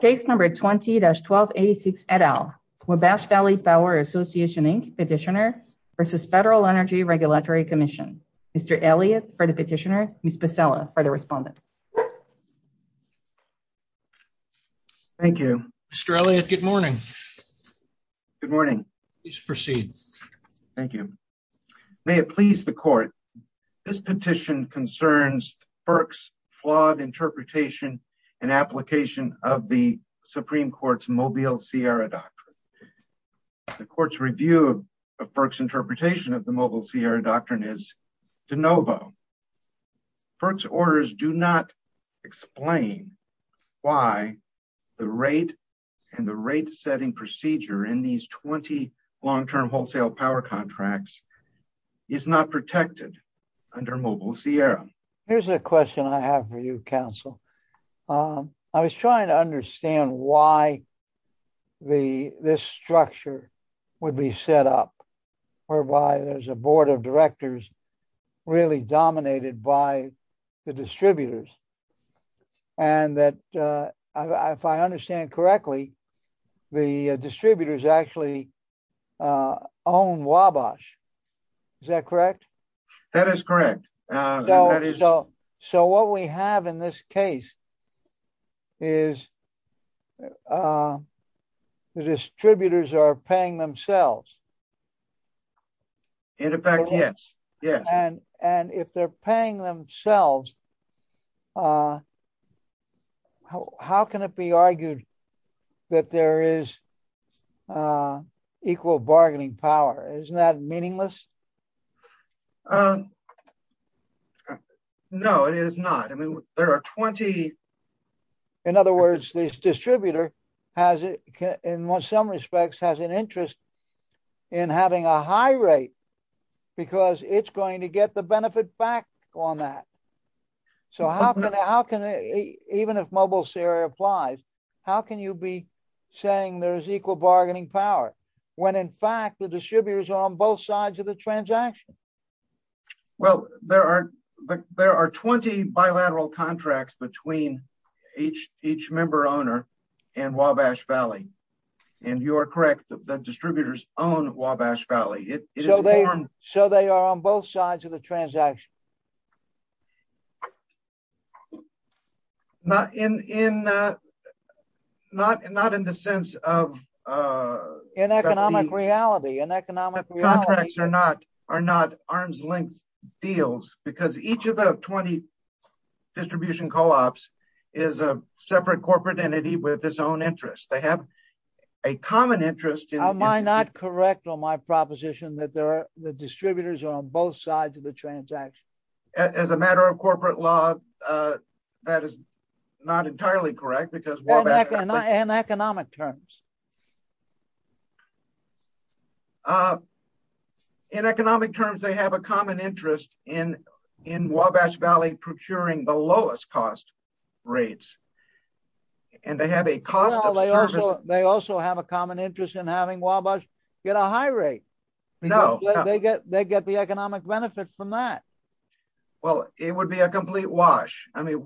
Case number 20-1286 et al. Wabash Valley Power Association, Inc. Petitioner v. Federal Energy Regulatory Commission. Mr. Elliott for the petitioner, Ms. Pasella for the respondent. Thank you. Mr. Elliott, good morning. Good morning. Please proceed. Thank you. May it please the Court, this petition concerns FERC's flawed interpretation and application of the Supreme Court's Mobile Sierra Doctrine. The Court's review of FERC's interpretation of the Mobile Sierra Doctrine is de novo. FERC's orders do not explain why the rate and the rate is not protected under Mobile Sierra. Here's a question I have for you, counsel. I was trying to understand why this structure would be set up, whereby there's a board of directors really dominated by the distributors, and that if I understand correctly, the distributors actually own Wabash. Is that correct? That is correct. So what we have in this case is the distributors are paying themselves. In effect, yes. And if they're paying themselves, how can it be argued that there is equal bargaining power? Isn't that meaningless? No, it is not. I mean, there are 20... In other words, this distributor, in some respects, has an interest in having a high rate because it's going to get the benefit back on that. So how can, even if Mobile Sierra applies, how can you be saying there's equal bargaining power when in fact the distributors are on both sides of the transaction? Well, there are 20 bilateral contracts between each member owner and Wabash Valley. And you are correct, the distributors own Wabash Valley. So they are on both sides of the transaction? No, not in the sense of... In economic reality. The contracts are not arm's length deals because each of the 20 distribution co-ops is a separate corporate entity with its own interest. They have a common interest in... Am I not correct on my proposition that the distributors are on both sides of the transaction? As a matter of corporate law, that is not entirely correct because Wabash... In economic terms. In economic terms, they have a common interest in Wabash Valley procuring the lowest cost rates. And they have a cost of service... They also have a common interest in having Wabash get a high rate. No. They get the economic benefits from that. Well, it would be a complete wash. I mean,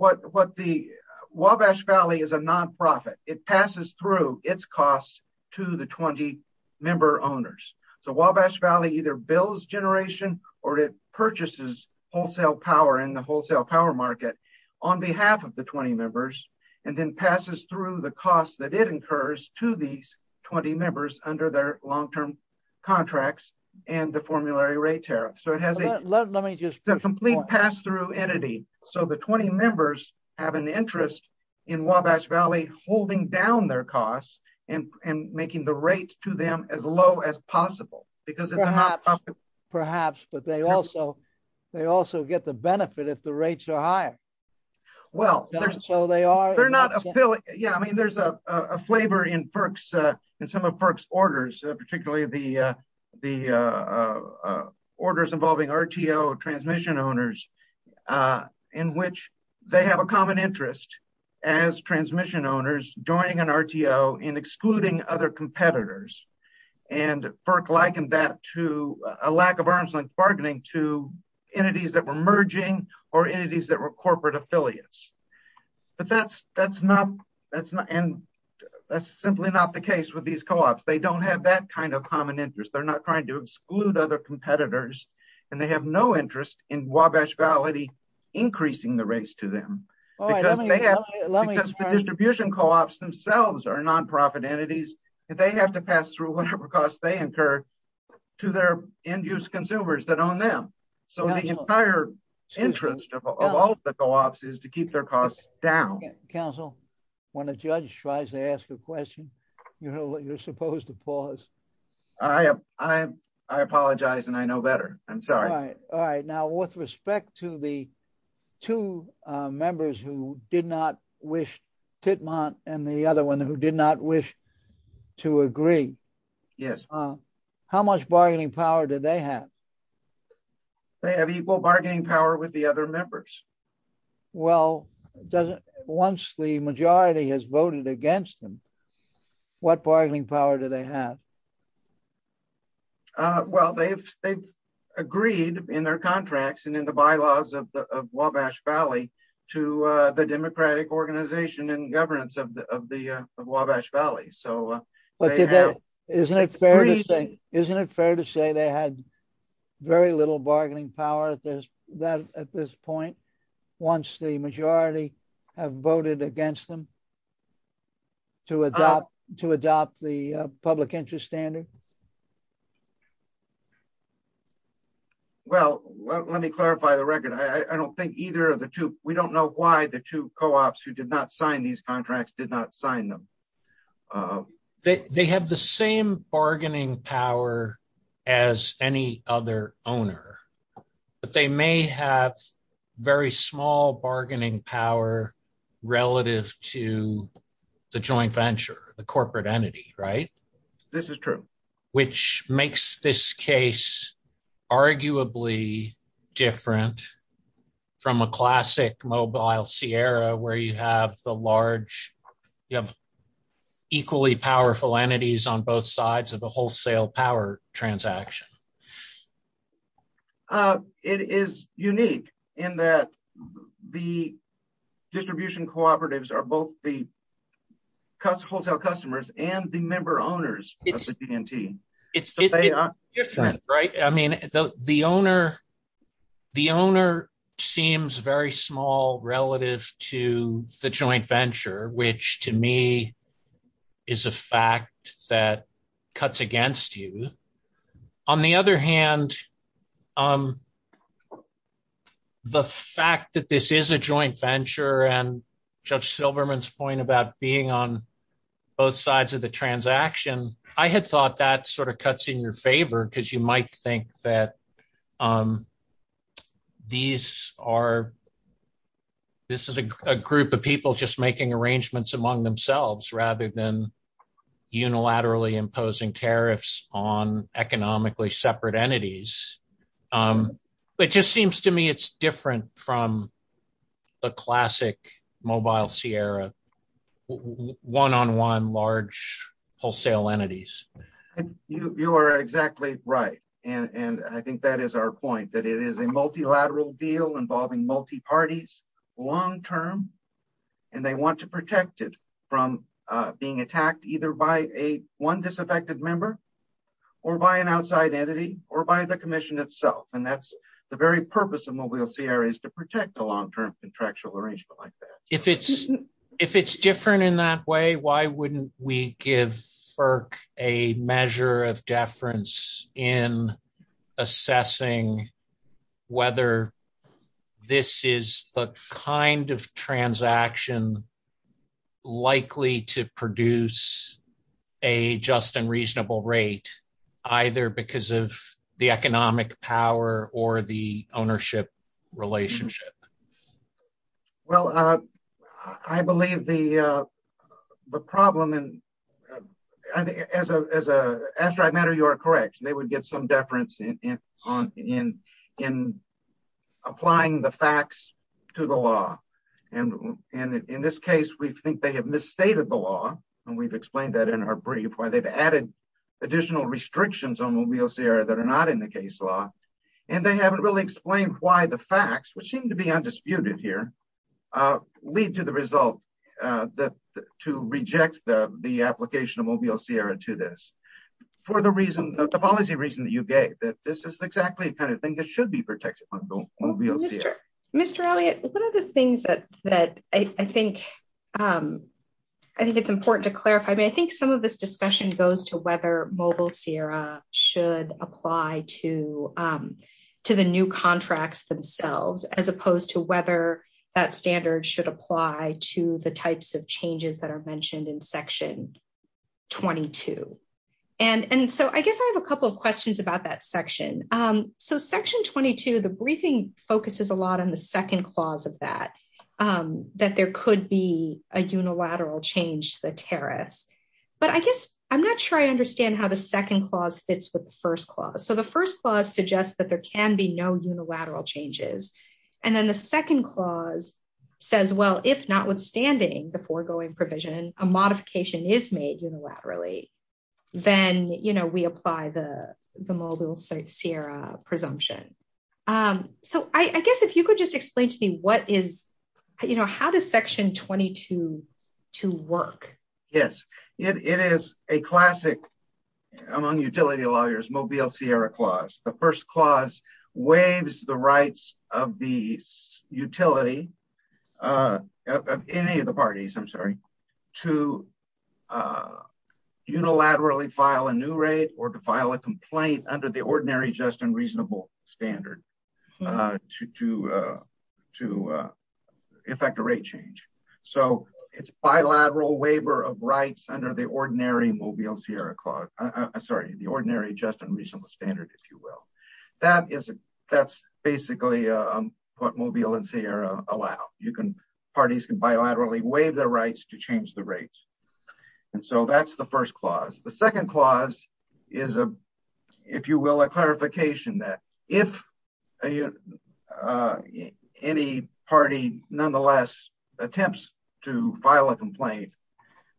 Wabash Valley is a non-profit. It passes through its costs to the 20 member owners. So Wabash Valley either bills generation or it purchases wholesale power in the wholesale power market on behalf of the 20 members and then passes through the costs that it incurs to these 20 members under their long-term contracts and the formulary rate tariff. So it has a complete pass-through entity. So the 20 members have an interest in Wabash Valley holding down their costs and making the rates to them as low as possible because it's a non-profit. Perhaps, but they also get the benefit if the rates are higher. Well, there's... So they are... Yeah. I mean, there's a flavor in some of FERC's orders, particularly the orders involving RTO transmission owners in which they have a common interest as transmission owners joining an RTO in excluding other competitors. And FERC likened that to a lack of arm's length bargaining to entities that were merging or entities that were corporate affiliates. But that's simply not the case with these co-ops. They don't have that kind of common interest. They're not trying to exclude other competitors and they have no interest in Wabash Valley increasing the rates to them because the distribution co-ops themselves are non-profit entities and they have to pass through whatever costs they incur to their end-use consumers that costs down. Counsel, when a judge tries to ask a question, you're supposed to pause. I apologize and I know better. I'm sorry. All right. All right. Now, with respect to the two members who did not wish, Titmont and the other one who did not wish to agree. Yes. How much bargaining power do they have? They have equal bargaining power with the other members. Well, once the majority has voted against them, what bargaining power do they have? Well, they've agreed in their contracts and in the bylaws of Wabash Valley to the democratic organization and governance of Wabash Valley. But isn't it fair to say they had very little bargaining power at this point? Once the majority have voted against them to adopt the public interest standard. Well, let me clarify the record. I don't think either of the two, we don't know why the two co-ops who did not sign these contracts did not sign them. They have the same bargaining power as any other owner. But they may have very small bargaining power relative to the joint venture, the corporate entity, right? This is true. Which makes this case arguably different from a classic mobile Sierra where you have the large, you have equally powerful entities on both sides of the wholesale power transaction. It is unique in that the distribution cooperatives are both the wholesale customers and the member owners of the TNT. It's different, right? The owner seems very small relative to the joint venture, which to me is a fact that cuts against you. On the other hand, the fact that this is a joint venture and Judge Silberman's point about being on both sides of the transaction, I had thought that sort of cuts in your favor because you might think that these are, this is a group of people just making arrangements among themselves rather than unilaterally imposing tariffs on economically separate entities. But it just seems to me it's different from the classic mobile Sierra, one-on-one large wholesale entities. You are exactly right. And I think that is our point, that it is a multilateral deal involving multi-parties long-term and they want to protect it from being attacked either by a one disaffected member or by an outside entity or by the commission itself. And that's the very purpose of mobile Sierra is to protect a long-term contractual arrangement. If it's different in that way, why wouldn't we give FERC a measure of deference in assessing whether this is the kind of transaction likely to produce a just and reasonable rate, either because of the economic power or the ownership relationship? Well, I believe the problem and as a matter, you are correct. They would get some deference in applying the facts to the law. And in this case, we think they have misstated the law. And we've explained that in our brief where they've added additional restrictions on mobile Sierra that are not in the case law. And they haven't really explained why the facts, which seem to be undisputed here, lead to the result that to reject the application of mobile Sierra to this. For the reason, the policy reason that you gave that this is exactly the kind of thing that should be protected. Mr. Elliott, one of the things that I think it's important to clarify, I mean, I think some of this discussion goes to whether mobile Sierra should apply to the new contracts themselves, as opposed to whether that standard should apply to the types of changes that are mentioned in section 22. And so I guess I have a couple of questions about that section. So section 22, the briefing focuses a lot on the second clause of that, that there could be a unilateral change to the tariffs. But I guess I'm not sure I understand how the second clause fits with the first clause. So the first clause suggests that there can be no unilateral changes. And then the second clause says, well, if notwithstanding the foregoing provision, a modification is made unilaterally, then we apply the mobile Sierra presumption. So I guess if you could just explain to me what is, how does section 22 work? Yes, it is a classic among utility lawyers, mobile Sierra clause. The first clause waives the rights of the utility of any of the parties, I'm sorry, to unilaterally file a new rate or to file a complaint under the ordinary, just and reasonable standard to effect a rate change. So it's bilateral waiver of rights under the ordinary mobile Sierra clause, sorry, the ordinary, just and reasonable standard, if you will. That is, that's basically what mobile and Sierra allow. You can, parties can bilaterally waive their rights to change the rates. And so that's the first clause. The second clause is, if you will, a clarification that if a, any party nonetheless attempts to file a complaint,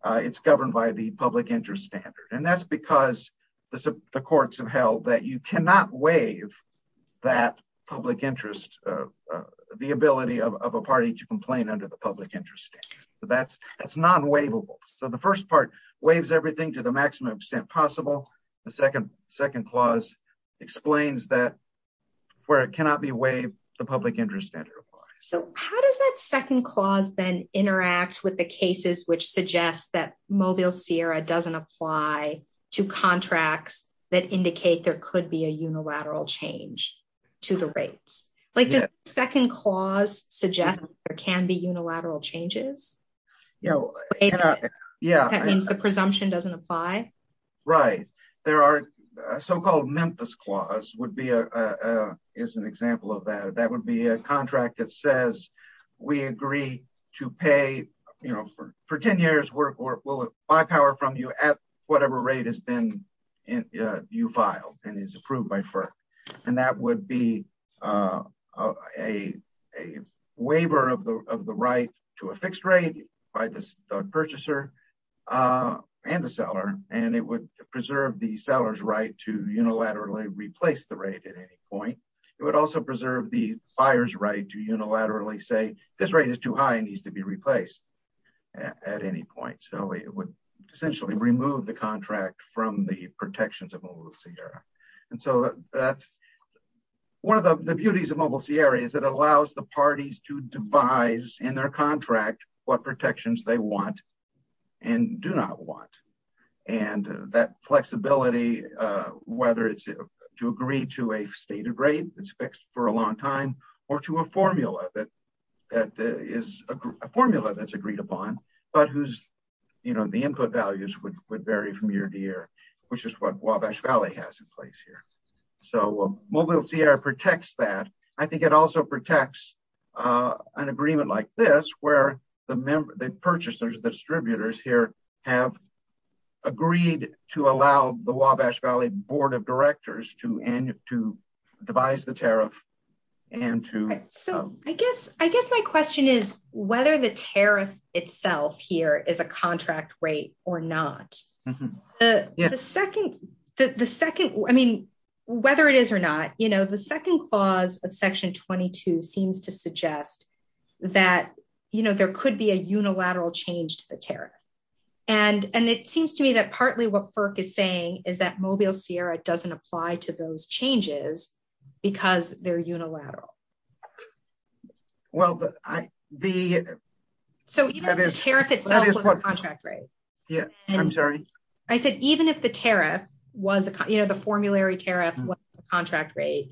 it's governed by the public interest standard. And that's because the courts have held that you cannot waive that public interest, the ability of a party to complain under the public interest standard. So that's non-waivable. So the first part waives everything to the maximum extent possible. The second clause explains that where it cannot be waived, the public interest standard applies. So how does that second clause then interact with the cases, which suggests that mobile Sierra doesn't apply to contracts that indicate there could be a unilateral change to the rates? Like the second clause suggests there can be unilateral changes. Yeah. That means the presumption doesn't apply. Right. There are so-called Memphis clause would be a, is an example of that. That would be a contract that says we agree to pay, you know, for 10 years, we'll buy power from you at whatever rate is then you filed and is approved by FERC. And that would be a waiver of the right to a fixed rate by the purchaser and the seller. And it would preserve the seller's right to unilaterally replace the rate at any point. It would also preserve the buyer's right to unilaterally say this rate is too high and needs to be replaced at any point. So it would essentially remove the contract from the protections of mobile Sierra. And so that's one of the beauties of mobile Sierra is it allows the parties to devise in their contract, what protections they want and do not want. And that flexibility, whether it's to agree to a stated rate that's fixed for a long time or to a formula that is a formula that's agreed upon, but who's, you know, the input values would vary from year to year, which is what Wabash Valley has in place here. So mobile Sierra protects that. I think it also protects an agreement like this, where the purchasers, the distributors here have agreed to allow the Wabash Valley Board of Directors to devise the tariff and to... Okay, so I guess my question is whether the tariff itself here is a contract rate or not. I mean, whether it is or not, you know, the second clause of section 22 seems to suggest that, you know, there could be a unilateral change to the tariff. And it seems to me that partly what FERC is saying is that mobile Sierra doesn't apply to those changes because they're unilateral. Well, the... So even if the tariff itself was a contract rate. Yeah, I'm sorry. I said, even if the tariff was, you know, the formulary tariff was a contract rate,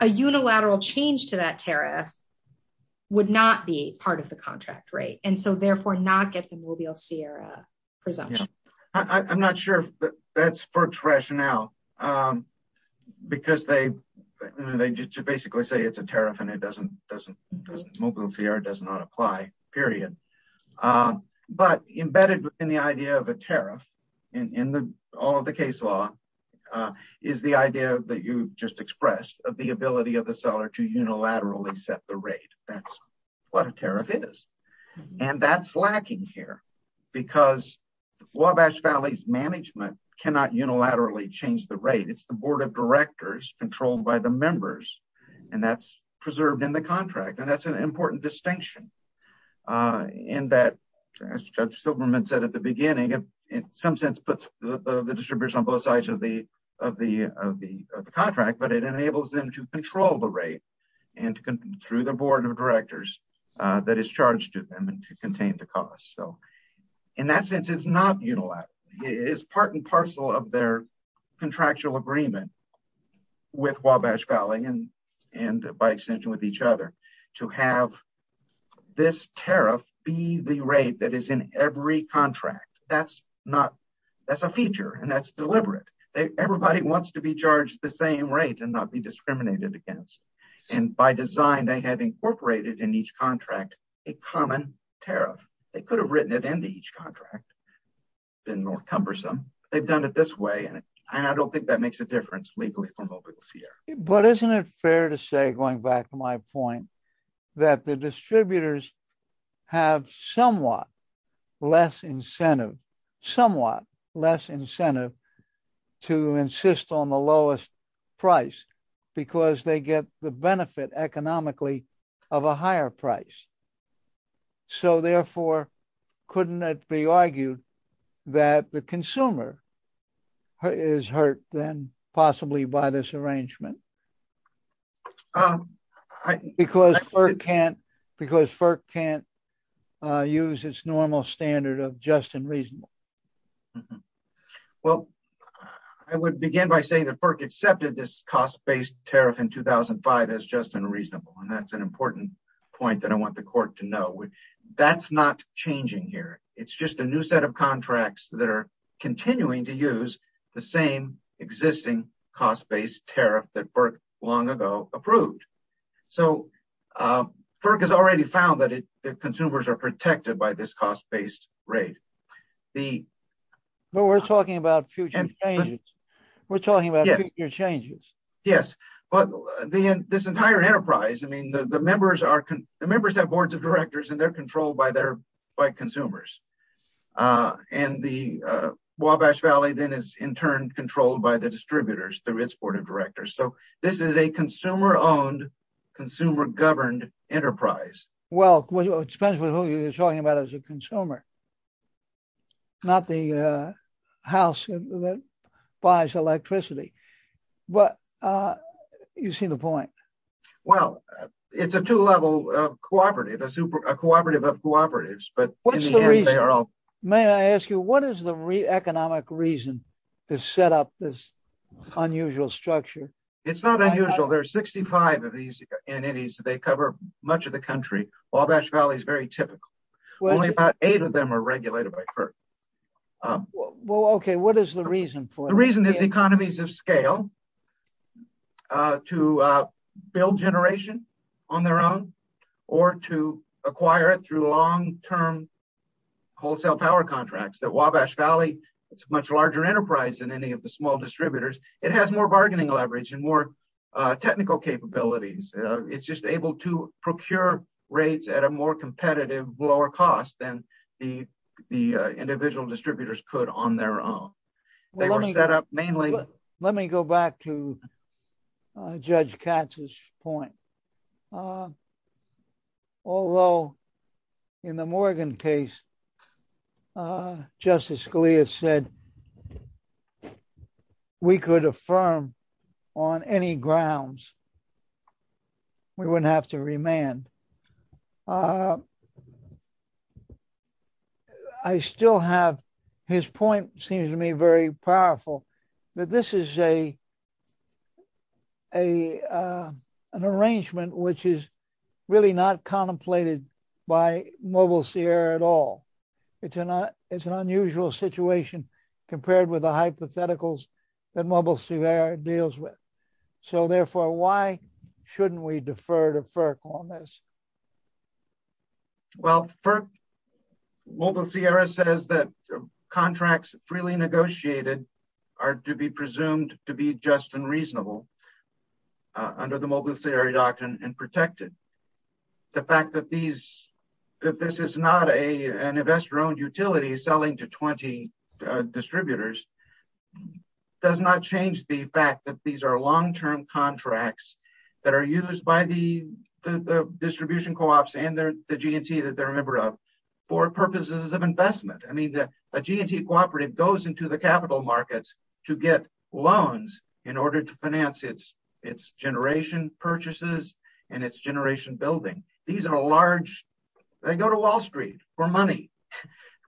a unilateral change to that tariff would not be part of the contract rate. And so therefore not get the mobile Sierra presumption. I'm not sure that's FERC's rationale because they just basically say it's a tariff and mobile Sierra does not apply, period. But embedded in the idea of a tariff in all of the case law is the idea that you just expressed of the ability of the seller to unilaterally set the rate. That's what a tariff is. And that's lacking here because Wabash Valley's management cannot unilaterally change the rate. It's the board of directors controlled by the members and that's preserved in the contract. And that's an important distinction. In that, as Judge Silverman said at the beginning, in some sense puts the distribution on both sides of the contract, but it enables them to control the rate and through the board of directors that is charged to them and to contain the cost. So in that sense, it's not unilateral. It is part and parcel of their contractual agreement with Wabash Valley and by extension with each other to have this tariff be the rate that is in every contract. That's a feature and that's deliberate. Everybody wants to be charged the same rate and not be discriminated against. And by design, they have incorporated in each contract a common tariff. They could have written it into each contract, been more cumbersome. They've done it this way. And I don't think that makes a difference legally for mobile CR. But isn't it fair to say, going back to my point, that the distributors have somewhat less incentive to insist on the lowest price because they get the benefit economically of a higher price. So therefore, couldn't it be argued that the consumer is hurt then possibly by this arrangement? Because FERC can't use its normal standard of just and reasonable. Well, I would begin by saying that FERC accepted this cost-based tariff in 2005 as just and reasonable. And that's an important point that I want the court to know. That's not changing here. It's just a new set of contracts that are continuing to use the same existing cost-based tariff that FERC long ago approved. So FERC has already found that the consumers are protected by this cost-based rate. Well, we're talking about future changes. We're talking about future changes. Yes. But this entire enterprise, I mean, the members have boards of directors and they're controlled by consumers. And the Wabash Valley then is in turn controlled by the distributors, the risk board of directors. So this is a consumer-owned, consumer-governed enterprise. Well, it depends on who you're talking about as a consumer, not the house that buys electricity. But you've seen the point. Well, it's a two-level cooperative, a cooperative of cooperatives. What's the reason? May I ask you, what is the economic reason to set up this unusual structure? It's not unusual. There are 65 of these entities. They cover much of the country. Wabash Valley is very typical. Only about eight of them are regulated by FERC. Well, okay. What is the reason for it? The reason is economies of scale to build generation on their own or to acquire it through long-term wholesale power contracts. The Wabash Valley, it's a much larger enterprise than any of the small distributors. It has more bargaining leverage and more technical capabilities. It's just able to procure rates at a more competitive, lower cost than the individual distributors could on their own. They were set up mainly- Let me go back to Judge Katz's point. Although in the Morgan case, Justice Scalia said we could affirm on any grounds, we wouldn't have to remand. I still have- His point seems to me very powerful, that this is an arrangement which is really not contemplated by Mobile Sierra at all. It's an unusual situation compared with the hypotheticals that Mobile Sierra deals with. So therefore, why shouldn't we defer to FERC on this? Well, FERC, Mobile Sierra says that contracts freely negotiated are to be presumed to be just and reasonable. Under the Mobile Sierra doctrine and protected. The fact that this is not an investor-owned utility selling to 20 distributors does not change the fact that these are long-term contracts that are used by the distribution co-ops and the G&T that they're a member of for purposes of investment. I mean, a G&T cooperative goes into the capital markets to get loans in order to finance its generation purchases and its generation building. These are a large- They go to Wall Street for money.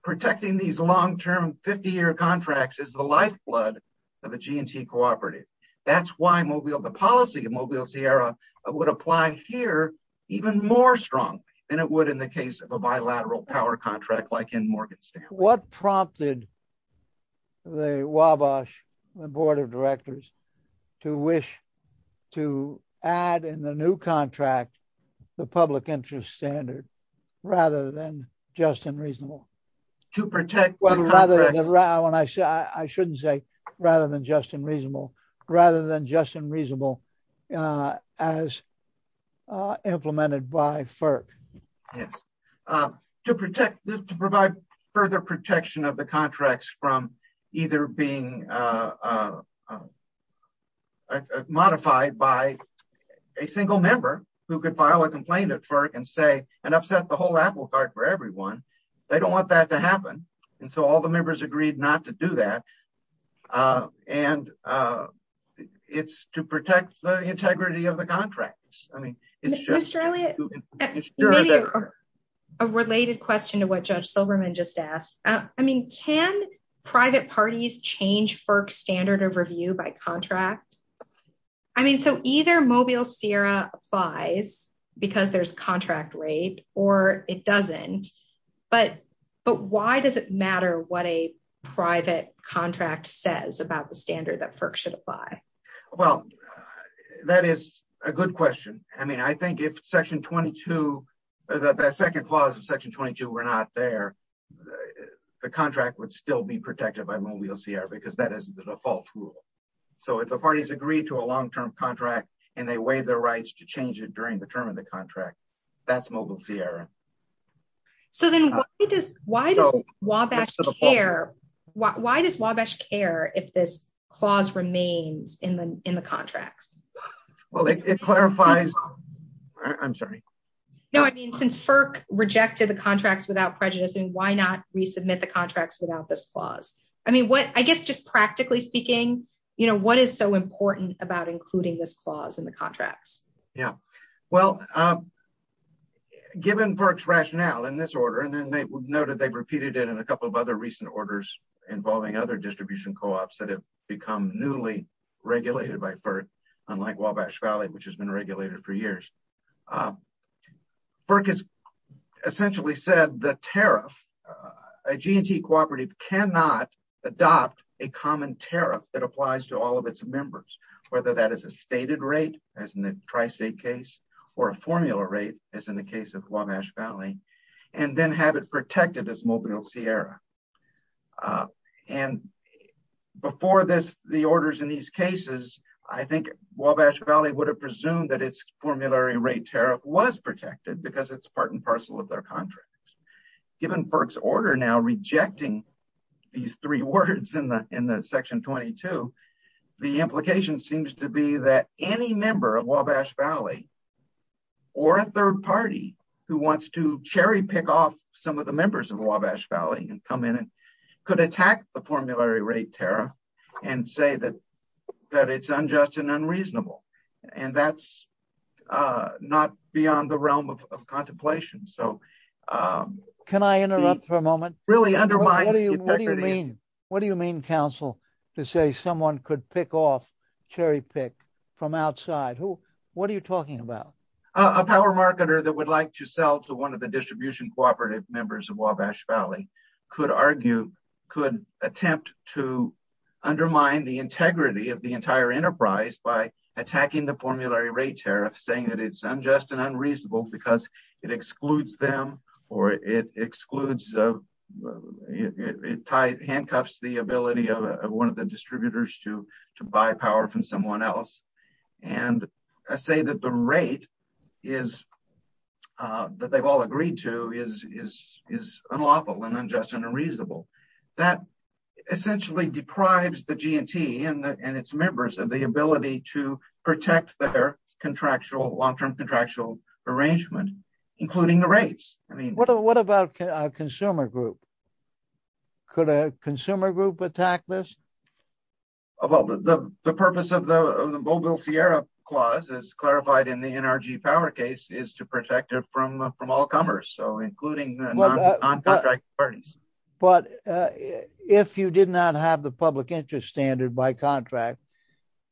Protecting these long-term 50-year contracts is the lifeblood of a G&T cooperative. That's why the policy of Mobile Sierra would apply here even more strong than it would in the case of a bilateral power contract like in Morgan State. What prompted the WABOSH, the board of directors, to wish to add in the new contract the public interest standard rather than just and reasonable? To protect- Well, rather than, I shouldn't say rather than just and reasonable, rather than just and reasonable as implemented by FERC. Yes. To protect- To provide further protection of the contracts from either being modified by a single member who could file a complaint at FERC and say, and upset the whole apple cart for everyone. They don't want that to happen. And so all the members agreed not to do that. And it's to protect the integrity of the contracts. I mean, it's just- Mr. Elliott. Maybe a related question to what Judge Silverman just asked. I mean, can private parties change FERC standard of review by contract? I mean, so either Mobile Sierra applies because there's contract rate or it doesn't. But why does it matter what a private contract says about the standard that FERC should apply? Well, that is a good question. I mean, I think if Section 22, the second clause of Section 22 were not there, the contract would still be protected by Mobile Sierra because that is the default rule. So if the parties agree to a long-term contract and they waive their rights to change it during the term of the contract, that's Mobile Sierra. So then why does Wabash care? Why does Wabash care if this clause remains in the contracts? Well, it clarifies- I'm sorry. No, I mean, since FERC rejected the contracts without prejudice, why not resubmit the contracts without this clause? I mean, I guess just practically speaking, you know, what is so important about including this clause in the contracts? Yeah, well, given FERC's rationale in this order, and then they noted they've repeated it in a couple of other recent orders involving other distribution co-ops that have become newly regulated by FERC, like Wabash Valley, which has been regulated for years. FERC has essentially said the tariff- a G&T cooperative cannot adopt a common tariff that applies to all of its members, whether that is a stated rate, as in the tri-state case, or a formula rate, as in the case of Wabash Valley, and then have it protected as Mobile Sierra. And before this, the orders in these cases, I think Wabash Valley would have presumed that its formulary rate tariff was protected because it's part and parcel of their contract. Given FERC's order now rejecting these three words in the section 22, the implication seems to be that any member of Wabash Valley, or a third party who wants to cherry pick off some of the members of Wabash Valley, and come in and could attack the formulary rate tariff, and say that it's unjust and unreasonable, and that's not beyond the realm of contemplation. Can I interrupt for a moment? Really undermine the integrity. What do you mean, counsel, to say someone could pick off, cherry pick from outside? What are you talking about? A power marketer that would like to sell to one of the distribution cooperative members of Wabash Valley, could argue, could attempt to undermine the integrity of the entire enterprise by attacking the formulary rate tariff, saying that it's unjust and unreasonable because it excludes them, or it excludes, handcuffs the ability of one of the distributors to buy power from someone else. And I say that the rate is, that they've all agreed to, is unlawful, and unjust, and unreasonable. That essentially deprives the GNT and its members of the ability to protect their contractual, long-term contractual arrangement, including the rates. I mean, what about a consumer group? Could a consumer group attack this? Well, the purpose of the Mobile Sierra Clause, as clarified in the NRG power case, is to protect it from all comers. So including the non-contract parties. But if you did not have the public interest standard by contract,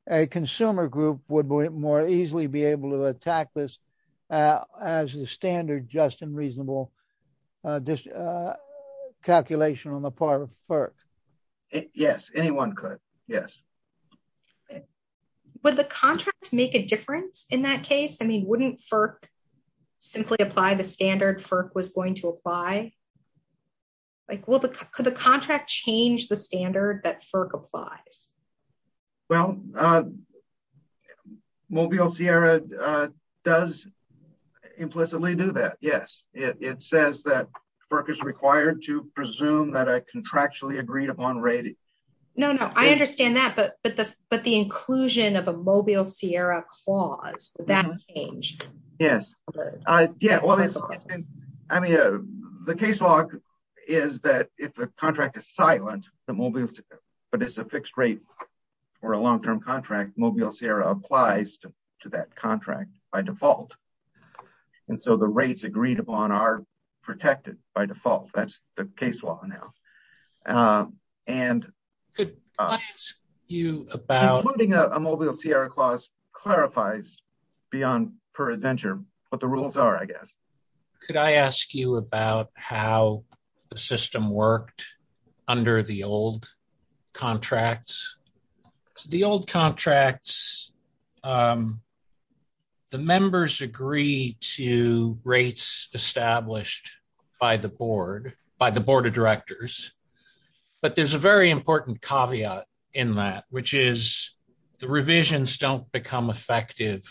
a consumer group would more easily be able to attack this as the standard just and reasonable calculation on the part of FERC. Yes, anyone could. Yes. Okay. Would the contract make a difference in that case? I mean, wouldn't FERC simply apply the standard FERC was going to apply? Like, could the contract change the standard that FERC applies? Well, Mobile Sierra does implicitly do that, yes. It says that FERC is required to presume that a contractually agreed-upon rating. No, no, I understand that. But the inclusion of a Mobile Sierra Clause, would that change? Yes. Yeah, well, I mean, the case law is that if the contract is silent, but it's a fixed rate for a long-term contract, Mobile Sierra applies to that contract by default. And so the rates agreed upon are protected by default. That's the case law now. Including a Mobile Sierra Clause clarifies, per adventure, what the rules are, I guess. Could I ask you about how the system worked under the old contracts? The old contracts, the members agree to rates established by the board, by the board of directors. But there's a very important caveat in that, which is, the revisions don't become effective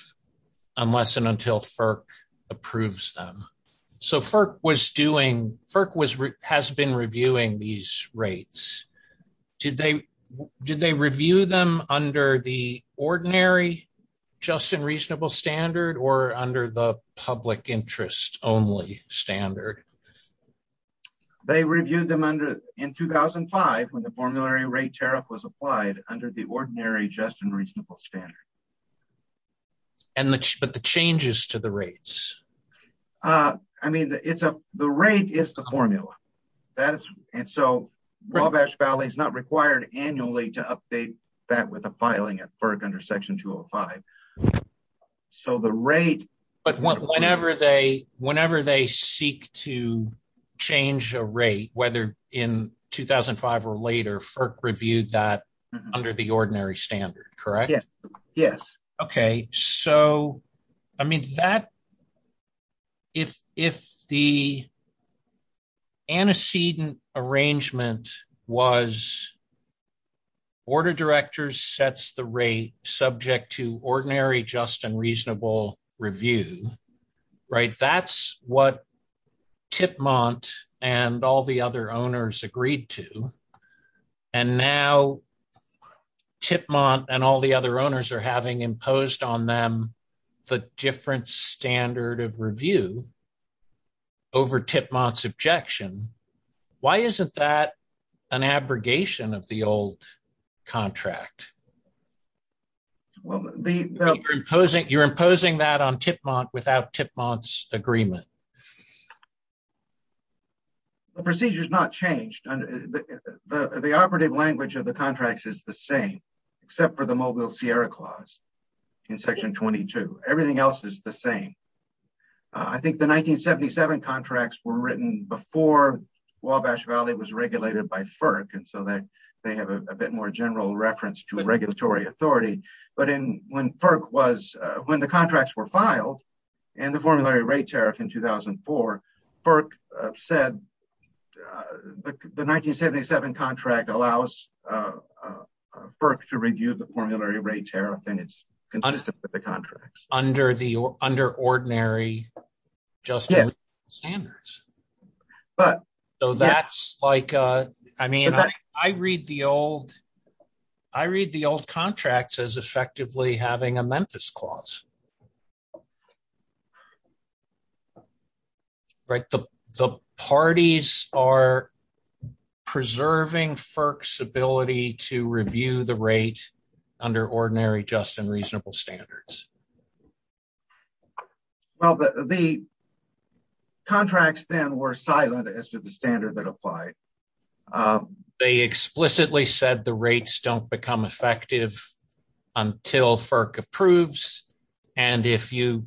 unless and until FERC approves them. So FERC was doing, FERC has been reviewing these rates. Did they review them under the ordinary, just and reasonable standard, or under the public interest only standard? They reviewed them in 2005 when the formulary rate tariff was applied under the ordinary, just and reasonable standard. But the changes to the rates? I mean, the rate is the formula. And so Wabash Valley is not required annually to update that with a filing at FERC under Section 205. So the rate... Whenever they seek to change a rate, whether in 2005 or later, FERC reviewed that under the ordinary standard, correct? Yes, yes. Okay, so, I mean, if the antecedent arrangement was, board of directors sets the rate subject to ordinary, just and reasonable review, right, that's what Tipmont and all the other owners agreed to. And now Tipmont and all the other owners are having imposed on them the different standard of review over Tipmont's objection. Why isn't that an abrogation of the old contract? Well, the... You're imposing that on Tipmont without Tipmont's agreement. The procedure's not changed. The operative language of the contracts is the same, except for the Mobile Sierra Clause in Section 22. Everything else is the same. I think the 1977 contracts were written before Wabash Valley was regulated by FERC. And so they have a bit more general reference to regulatory authority. But when FERC was... When the contracts were filed and the formulary rate tariff in 2004, FERC said the 1977 contract allows FERC to review the formulary rate tariff and it's consistent with the contract. Under ordinary, just and reasonable standards. But... So that's like... I read the old contracts as effectively having a Memphis Clause. Right? The parties are preserving FERC's ability to review the rate under ordinary, just and reasonable standards. Well, the contracts then were silent as to the standard that applied. They explicitly said the rates don't become effective until FERC approves. And if you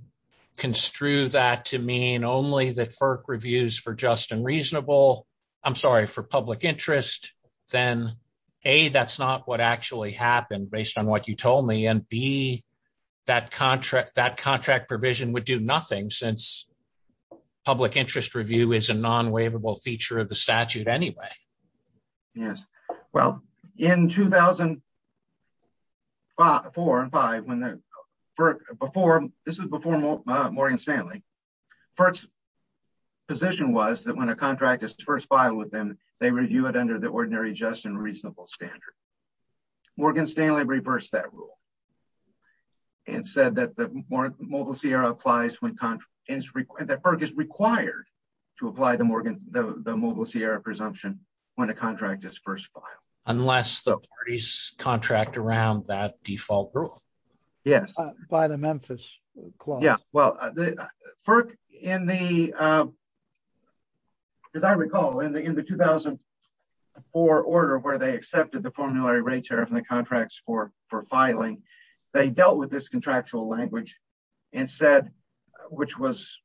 construe that to mean only that FERC reviews for just and reasonable... I'm sorry, for public interest, then A, that's not what actually happened based on what you told me. And B, that contract provision would do nothing since public interest review is a non-waivable feature of the statute anyway. Yes. Well, in 2004 and 5, when FERC... Before... This is before Morgan Stanley. FERC's position was that when a contract is first filed with them, they review it under the ordinary, just and reasonable standard. Morgan Stanley reversed that rule and said that the Mobile Sierra applies when... That FERC is required to apply the Morgan... When a contract is first filed. Unless the parties contract around that default rule. Yes. By the Memphis clause. Yeah. Well, FERC in the... As I recall, in the 2004 order where they accepted the formulary rate tariff and the contracts for filing, they dealt with this contractual language and said, which was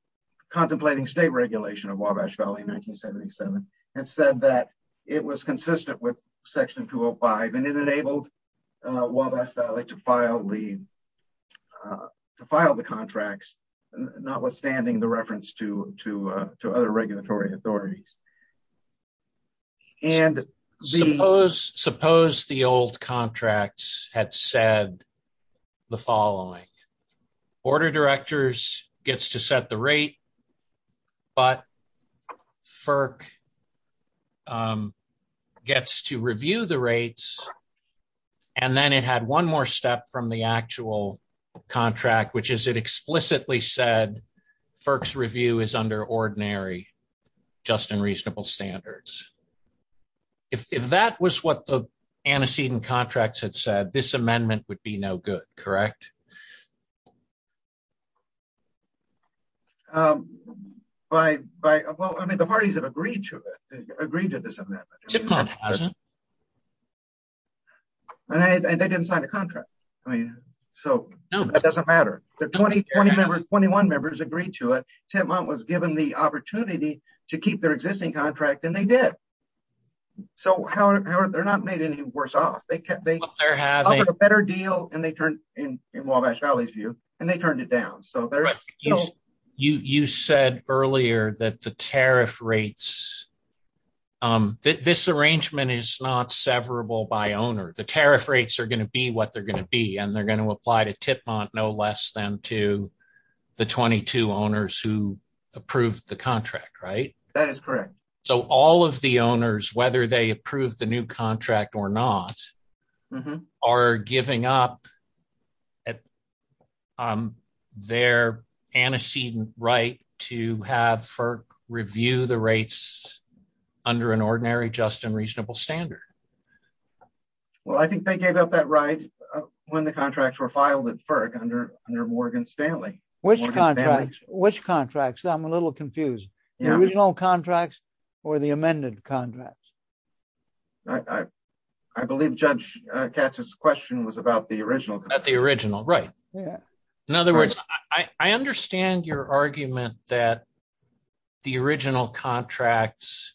contemplating state regulation of Wabash Valley in 1977, and said that it was consistent with section 205. And it enabled Wabash Valley to file the contracts, notwithstanding the reference to other regulatory authorities. And the... Suppose the old contracts had said the following, order directors gets to set the rate, but FERC gets to review the rates. And then it had one more step from the actual contract, which is it explicitly said, FERC's review is under ordinary, just and reasonable standards. If that was what the antecedent contracts had said, this amendment would be no good, correct? I mean, the parties have agreed to it, agreed to this amendment. And they didn't sign a contract. I mean, so that doesn't matter. The 20 members, 21 members agreed to it. Tipmont was given the opportunity to keep their existing contract and they did. So they're not made any worse off. They offered a better deal in Wabash Valley's view, and they turned it down. So there's... Right, you said earlier that the tariff rates, this arrangement is not severable by owner. The tariff rates are going to be what they're going to be. And they're going to apply to Tipmont, no less than to the 22 owners who approved the contract, right? That is correct. So all of the owners, whether they approve the new contract or not, are giving up their antecedent right to have FERC review the rates under an ordinary, just and reasonable standard. Well, I think they gave up that right when the contracts were filed at FERC under Morgan Stanley. Which contracts? Which contracts? I'm a little confused. The original contracts or the amended contracts? I believe Judge Katz's question was about the original. About the original, right. In other words, I understand your argument that the original contracts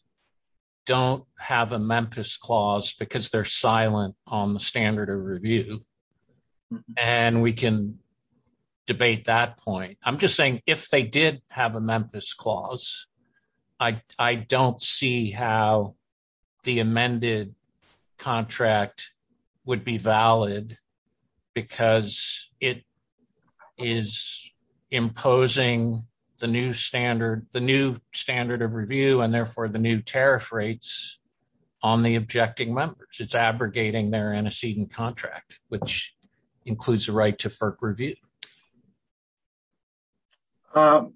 don't have a Memphis clause because they're silent on the standard of review. And we can debate that point. I'm just saying if they did have a Memphis clause, I don't see how the amended contract would be valid because it is imposing the new standard of review and therefore the new tariff rates on the objecting members. It's abrogating their antecedent contract, which includes the right to FERC review. So,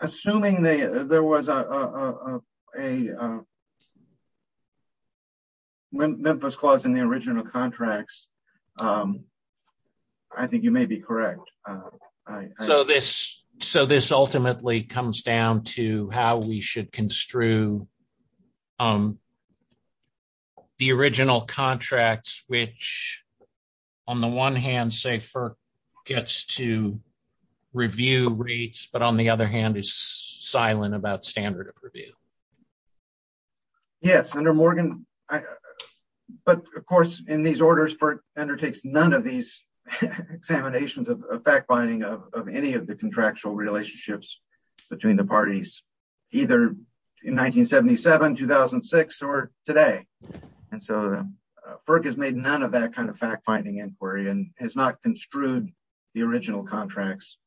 assuming there was a Memphis clause in the original contracts, I think you may be correct. So, this ultimately comes down to how we should construe the original contracts, which on the one hand say FERC gets to review rates, but on the other hand is silent about standard of review. Yes, under Morgan. But of course, in these orders, FERC undertakes none of these examinations of fact-finding of any of the contractual relationships between the parties, either in 1977, 2006, or today. And so, FERC has made none of that kind of fact-finding inquiry and has not construed the original contracts.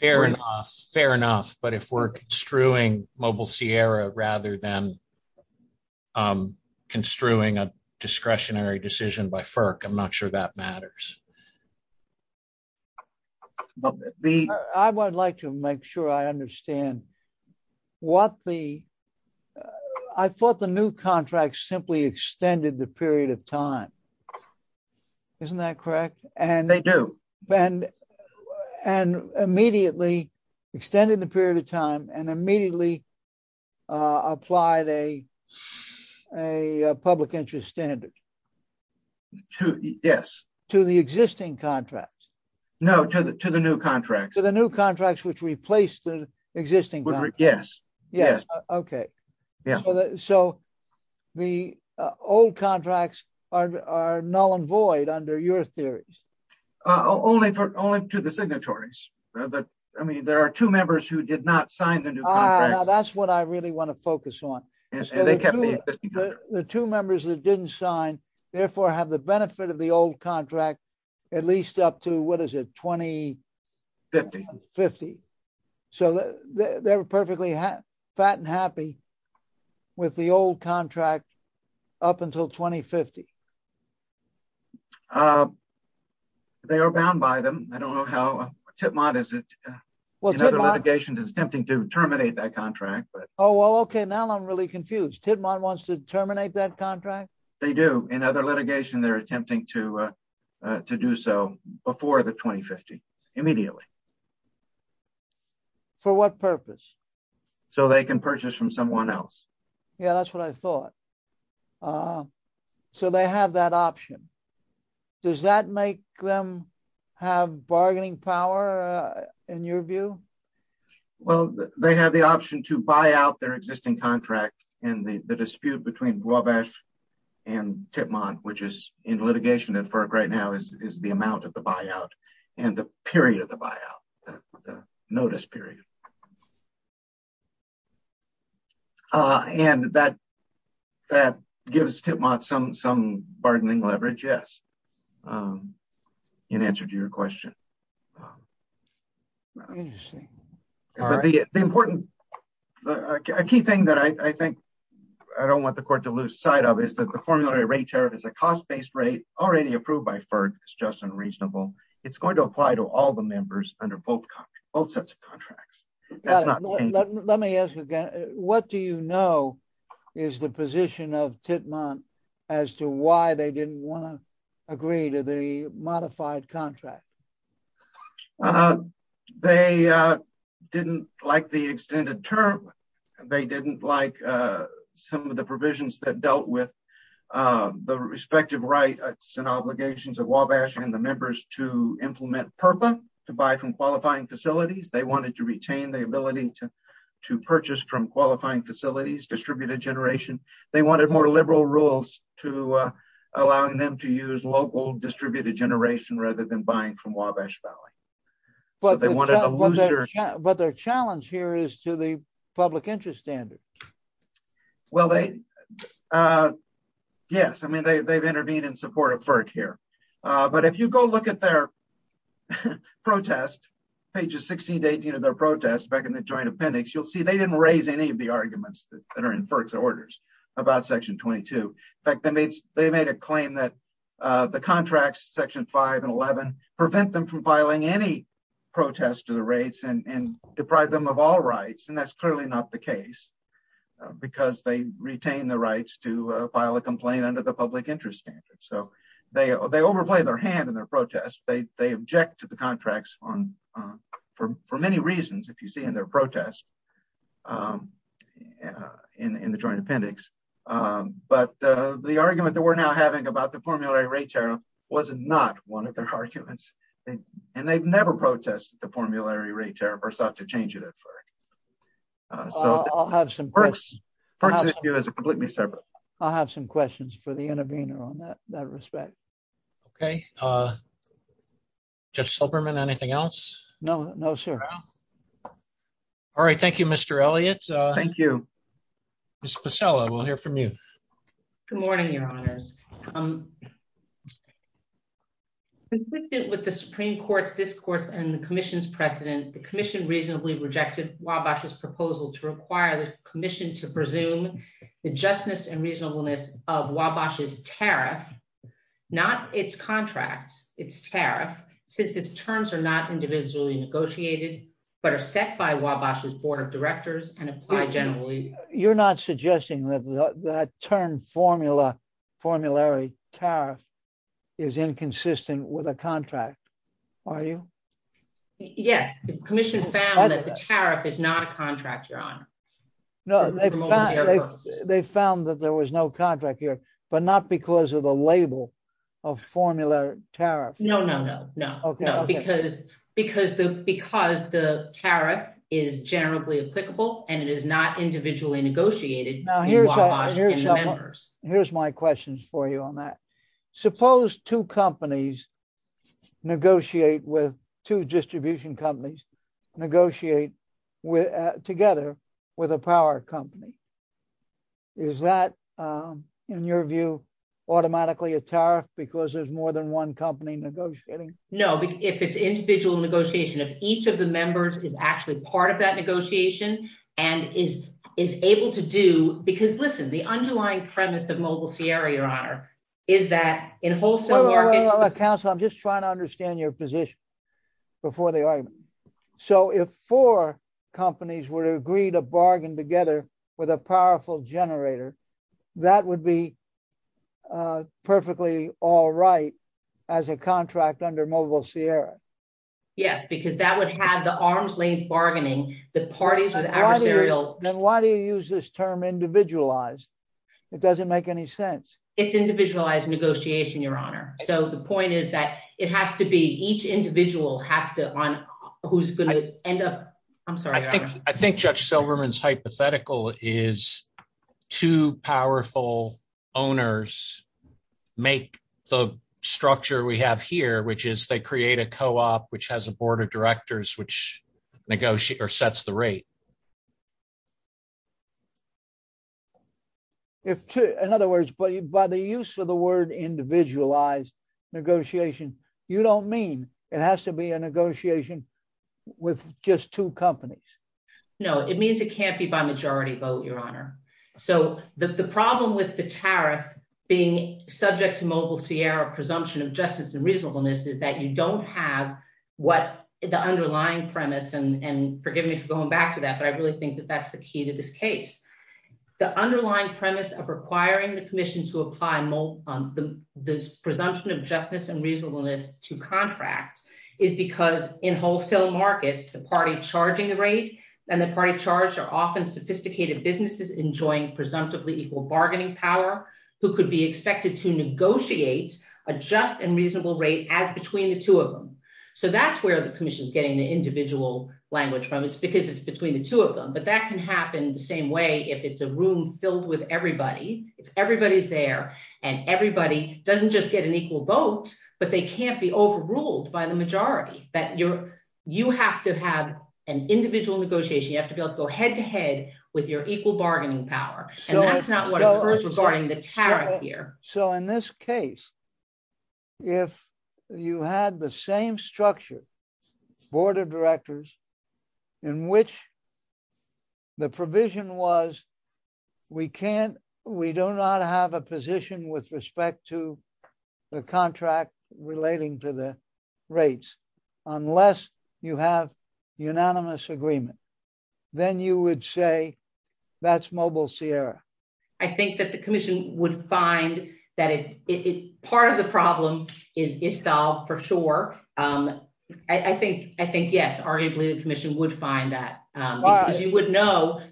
Fair enough, fair enough. But if we're construing Mobile Sierra rather than construing a discretionary decision by FERC, I'm not sure that matters. I would like to make sure I understand what the... I would like to make sure I understand that they extended the period of time. Isn't that correct? They do. And immediately extended the period of time and immediately applied a public interest standard. To, yes. To the existing contracts. No, to the new contracts. To the new contracts, which replaced the existing contracts. Yes, yes. Okay. So, the old contracts are null and void under your theories. Only to the signatories. I mean, there are two members who did not sign the new contracts. That's what I really want to focus on. The two members that didn't sign, therefore, have the benefit of the old contract, at least up to, what is it? 2050. 2050. So, they're perfectly fat and happy with the old contract up until 2050. They are bound by them. I don't know how... Tidmont, in other litigation, is attempting to terminate that contract. Oh, well, okay. Now, I'm really confused. Tidmont wants to terminate that contract? In other litigation, they're attempting to do so before the 2050. Immediately. For what purpose? So, they can purchase from someone else. Yeah, that's what I thought. So, they have that option. Does that make them have bargaining power, in your view? Well, they have the option to buy out their existing contract. And the dispute between Wabash and Tidmont, which is in litigation at FERC right now, is the amount of the buyout and the period of the buyout. The notice period. And that gives Tidmont some bargaining leverage. Yes. In answer to your question. Interesting. But the important... A key thing that I think I don't want the court to lose sight of is that the formulary rate tariff is a cost-based rate, already approved by FERC. It's just and reasonable. It's going to apply to all the members under both sets of contracts. Let me ask again. What do you know is the position of Tidmont as to why they didn't want to agree to the modified contract? They didn't like the extended term. They didn't like some of the provisions that dealt with the respective rights and obligations of Wabash and the members to implement PURPA, to buy from qualifying facilities. They wanted to retain the ability to purchase from qualifying facilities, distributed generation. They wanted more liberal rules to allowing them to use local distributed generation rather than buying from Wabash Valley. But their challenge here is to the public interest standard. Well, yes. I mean, they've intervened in support of FERC here. But if you go look at their protest, pages 16 to 18 of their protest back in the joint appendix, you'll see they didn't raise any of the arguments that are in FERC's orders about section 22. In fact, they made a claim that the contracts, section five and 11, prevent them from filing any protest to the rates and deprive them of all rights. And that's clearly not the case because they retain the rights to file a complaint under the public interest standard. So they overplay their hand in their protest. They object to the contracts for many reasons, if you see in their protest in the joint appendix. But the argument that we're now having about the formulary rate tariff was not one of their arguments. And they've never protested the formulary rate tariff or sought to change it at FERC. So FERC's issue is completely separate. I'll have some questions for the intervener on that respect. Okay, Judge Silberman, anything else? No, no, sir. All right, thank you, Mr. Elliott. Thank you. Ms. Pacella, we'll hear from you. Good morning, your honors. Consistent with the Supreme Court's discourse and the commission's precedent, the commission reasonably rejected Wabash's proposal to require the commission to presume the justness and reasonableness of Wabash's tariff, not its contracts, its tariff, since its terms are not individually negotiated, but are set by Wabash's board of directors and apply generally. You're not suggesting that that term formulary tariff is inconsistent with a contract, are you? Yes, the commission found that the tariff is not a contract, your honor. No, they found that there was no contract here, but not because of the label of formula tariff. No, no, no, no, no, because the tariff is generally applicable and it is not individually negotiated between Wabash and the members. Here's my questions for you on that. Suppose two companies negotiate with, two distribution companies negotiate together with a power company. Is that, in your view, automatically a tariff because there's more than one company negotiating? No, if it's individual negotiation, if each of the members is actually part of that negotiation and is able to do, because listen, the underlying premise of Mobile Sierra, your honor, is that in wholesome markets- Wait, wait, wait, counsel, I'm just trying to understand your position before the argument. So if four companies would agree to bargain together with a powerful generator, that would be perfectly all right as a contract under Mobile Sierra? Yes, because that would have the arms-length bargaining, the parties with adversarial- Then why do you use this term individualized? It doesn't make any sense. It's individualized negotiation, your honor. So the point is that it has to be, each individual has to, who's going to end up- I'm sorry, your honor. I think Judge Silverman's hypothetical is two powerful owners make the structure we have here, which is they create a co-op, which has a board of directors, which negotiates or sets the rate. In other words, by the use of the word individualized negotiation, you don't mean it has to be a negotiation with just two companies. No, it means it can't be by majority vote, your honor. So the problem with the tariff being subject to Mobile Sierra presumption of justice and reasonableness is that you don't have what the underlying premise, and forgive me for going back to that, but I really think that that's the key to this case. The underlying premise of requiring the commission to apply the presumption of justice and reasonableness to contract is because in wholesale markets, the party charging the rate and the party charged are often sophisticated businesses enjoying presumptively equal bargaining power who could be expected to negotiate a just and reasonable rate as between the two of them. So that's where the commission's getting the individual language from is because it's between the two of them, but that can happen the same way if it's a room filled with everybody. If everybody's there and everybody doesn't just get an equal vote, but they can't be overruled by the majority that you have to have an individual negotiation. You have to be able to go head to head with your equal bargaining power. And that's not what occurs regarding the tariff here. So in this case, if you had the same structure, board of directors in which the provision was, we can't, we do not have a position with respect to the contract relating to the rates unless you have unanimous agreement, then you would say that's mobile Sierra. I think that the commission would find that part of the problem is solved for sure. I think, yes, arguably the commission would find that because you would know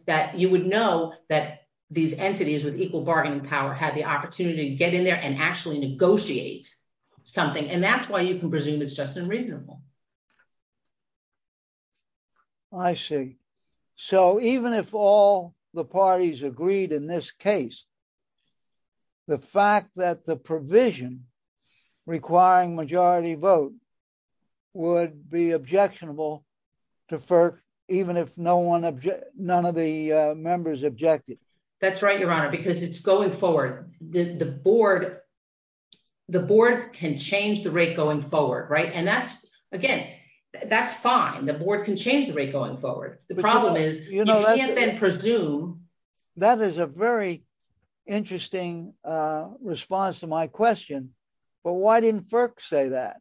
that these entities with equal bargaining power had the opportunity to get in there and actually negotiate something. And that's why you can presume it's just unreasonable. I see. So even if all the parties agreed in this case, the fact that the provision requiring majority vote would be objectionable to FERC, even if none of the members objected. That's right, Your Honor, because it's going forward. The board can change the rate going forward, right? And that's, again, that's fine. The board can change the rate going forward. The problem is you can't then presume. That is a very interesting response to my question. But why didn't FERC say that?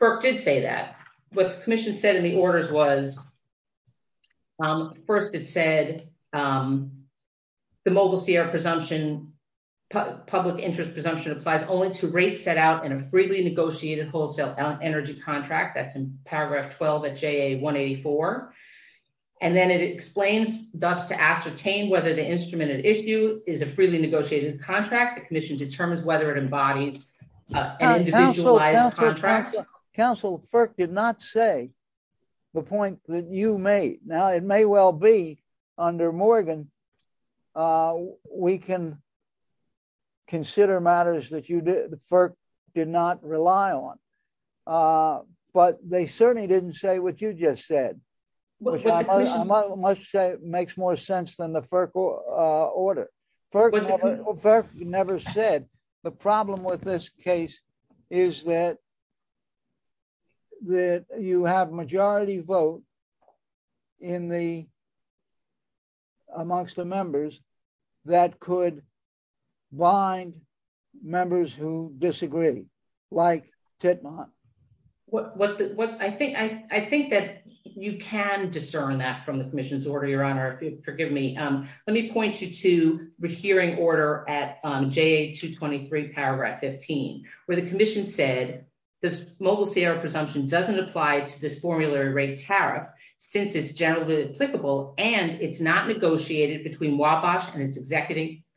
FERC did say that. What the commission said in the orders was, first it said the Mobile Sierra public interest presumption applies only to rates set out in a freely negotiated wholesale energy contract. That's in paragraph 12 at JA 184. And then it explains thus to ascertain whether the instrument at issue is a freely negotiated contract. The commission determines whether it embodies an individualized contract. Counsel, FERC did not say the point that you made. Now, it may well be under Morgan, we can consider matters that FERC did not rely on. But they certainly didn't say what you just said, which I must say makes more sense than the FERC order. FERC never said the problem with this case is that you have majority vote in the amongst the members that could bind members who disagree like Tetna. I think that you can discern that from the commission's order, your honor. Forgive me. Let me point you to the hearing order at JA 223 paragraph 15, where the commission said, the Mobile Sierra presumption doesn't apply to this formulary rate tariff since it's generally applicable and it's not negotiated between Wabash and its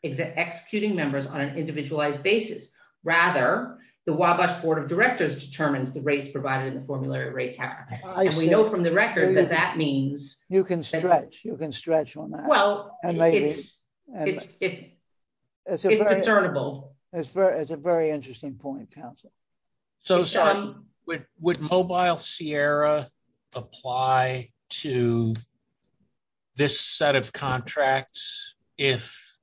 executing members on an individualized basis. Rather, the Wabash board of directors determines the rates provided in the formulary rate tariff. And we know from the record that that means- You can stretch on that. Well, it's discernible. It's a very interesting point, counsel. Would Mobile Sierra apply to this set of contracts if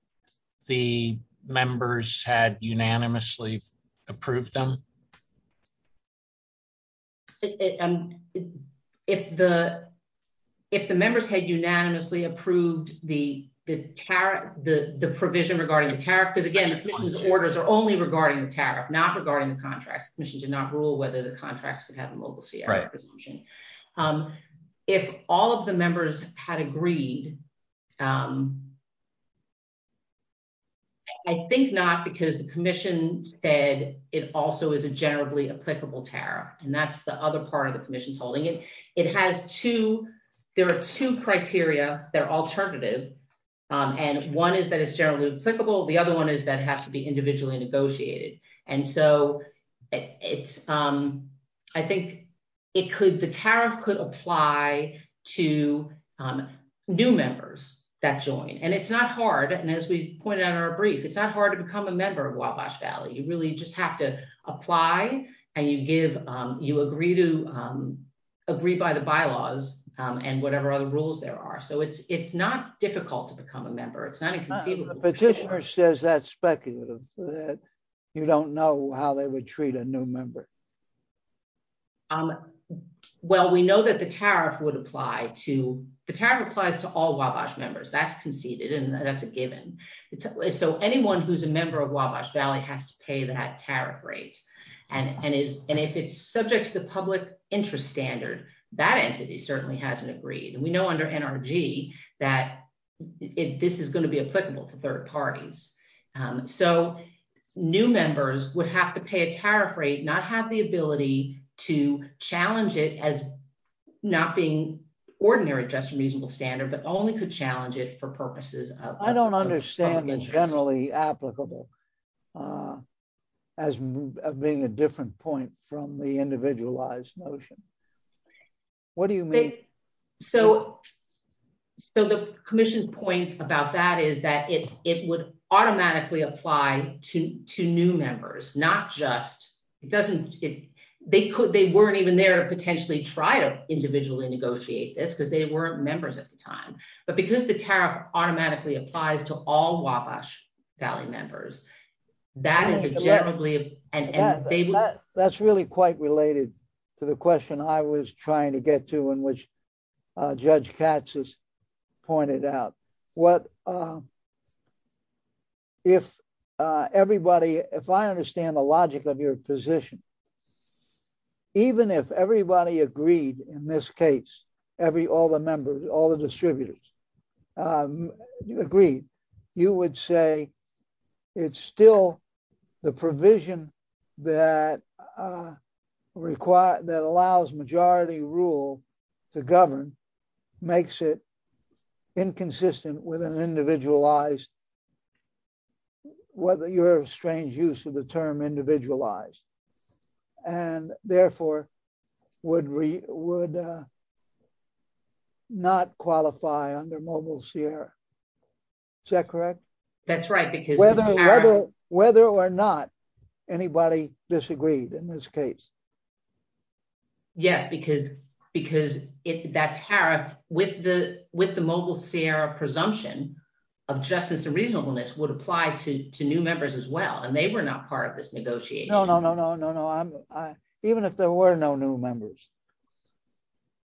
the members had unanimously approved them? If the members had unanimously approved the provision regarding the tariff, because again, the commission's orders are only regarding the tariff, not regarding the contracts. The commission did not rule whether the contracts could have a Mobile Sierra presumption. If all of the members had agreed, I think not because the commission said it also is a generally applicable tariff. And that's the other part of the commission's holding it. It has two, there are two criteria, they're alternative. And one is that it's generally applicable. The other one is that it has to be individually negotiated. And so I think the tariff could apply to new members that join. And it's not hard. And as we pointed out in our brief, it's not hard to become a member of Wabash Valley. You really just have to apply and you agree by the bylaws and whatever other rules there are. So it's not difficult to become a member. It's not inconceivable. The petitioner says that's speculative, that you don't know how they would treat a new member. Well, we know that the tariff would apply to, the tariff applies to all Wabash members. That's conceded and that's a given. So anyone who's a member of Wabash Valley has to pay that tariff rate. And if it's subject to the public interest standard, that entity certainly hasn't agreed. And we know under NRG that this is gonna be applicable to third parties. So new members would have to pay a tariff rate, not have the ability to challenge it as not being ordinary, just a reasonable standard, but only could challenge it for purposes of- I don't understand the generally applicable as being a different point from the individualized notion. What do you mean? So the commission's point about that is that it would automatically apply to new members, not just, they weren't even there to potentially try to individually negotiate this because they weren't members at the time. But because the tariff automatically applies to all Wabash Valley members, that is a generally- That's really quite related to the question I was trying to get to in which Judge Katz has pointed out. If I understand the logic of your position, even if everybody agreed in this case, all the members, all the distributors agreed, you would say it's still the provision that allows majority rule to govern makes it inconsistent with an individualized, whether you're a strange use of the term individualized and therefore would not qualify under Mobile Sierra. Is that correct? That's right because- Whether or not anybody disagreed in this case. Yes, because if that tariff with the Mobile Sierra presumption of justice and reasonableness would apply to new members as well and they were not part of this negotiation. No, no, no, no, no. Even if there were no new members,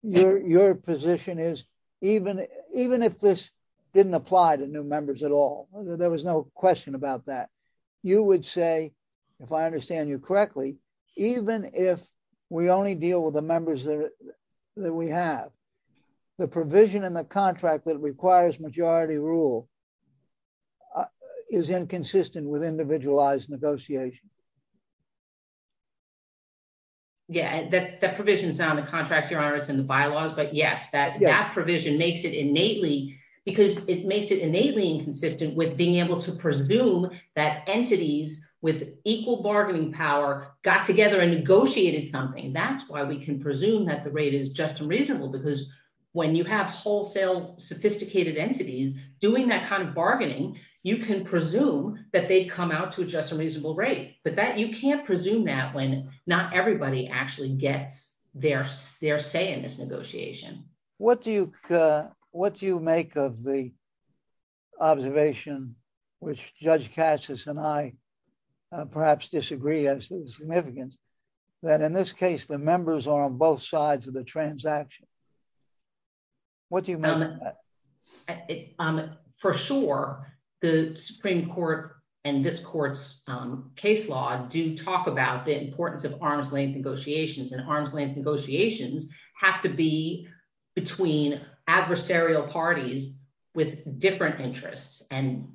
your position is even if this didn't apply to new members at all, there was no question about that. You would say, if I understand you correctly, even if we only deal with the members that we have, the provision in the contract that requires majority rule is inconsistent with individualized negotiation. Yeah, that provision is on the contracts, Your Honor, it's in the bylaws, but yes, that provision makes it innately because it makes it innately inconsistent with being able to presume that entities with equal bargaining power got together and negotiated something. That's why we can presume that the rate is just and reasonable because when you have wholesale sophisticated entities doing that kind of bargaining, you can presume that they'd come out to a just and reasonable rate, but you can't presume that when not everybody actually gets their say in this negotiation. What do you make of the observation which Judge Cassis and I perhaps disagree as to the significance that in this case, the members are on both sides of the transaction? What do you make of that? For sure, the Supreme Court and this court's case law do talk about the importance of arm's length negotiations and arm's length negotiations have to be between adversarial parties with different interests. And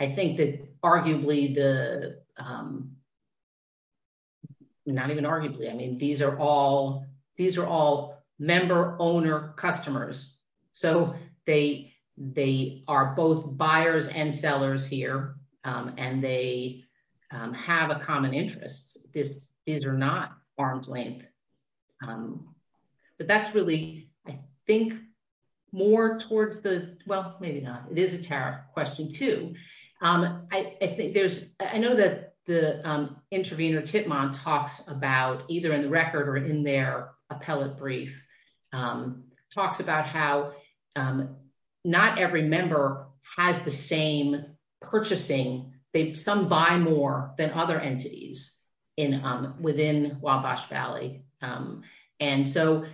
I think that arguably, not even arguably, I mean, these are all member owner customers. So they are both buyers and sellers here and they have a common interest. This is or not arm's length. But that's really, I think more towards the, well, maybe not. It is a tariff question too. I know that the intervener Titmon talks about either in the record or in their appellate brief, talks about how not every member has the same purchasing. They some buy more than other entities within Wabash Valley. And so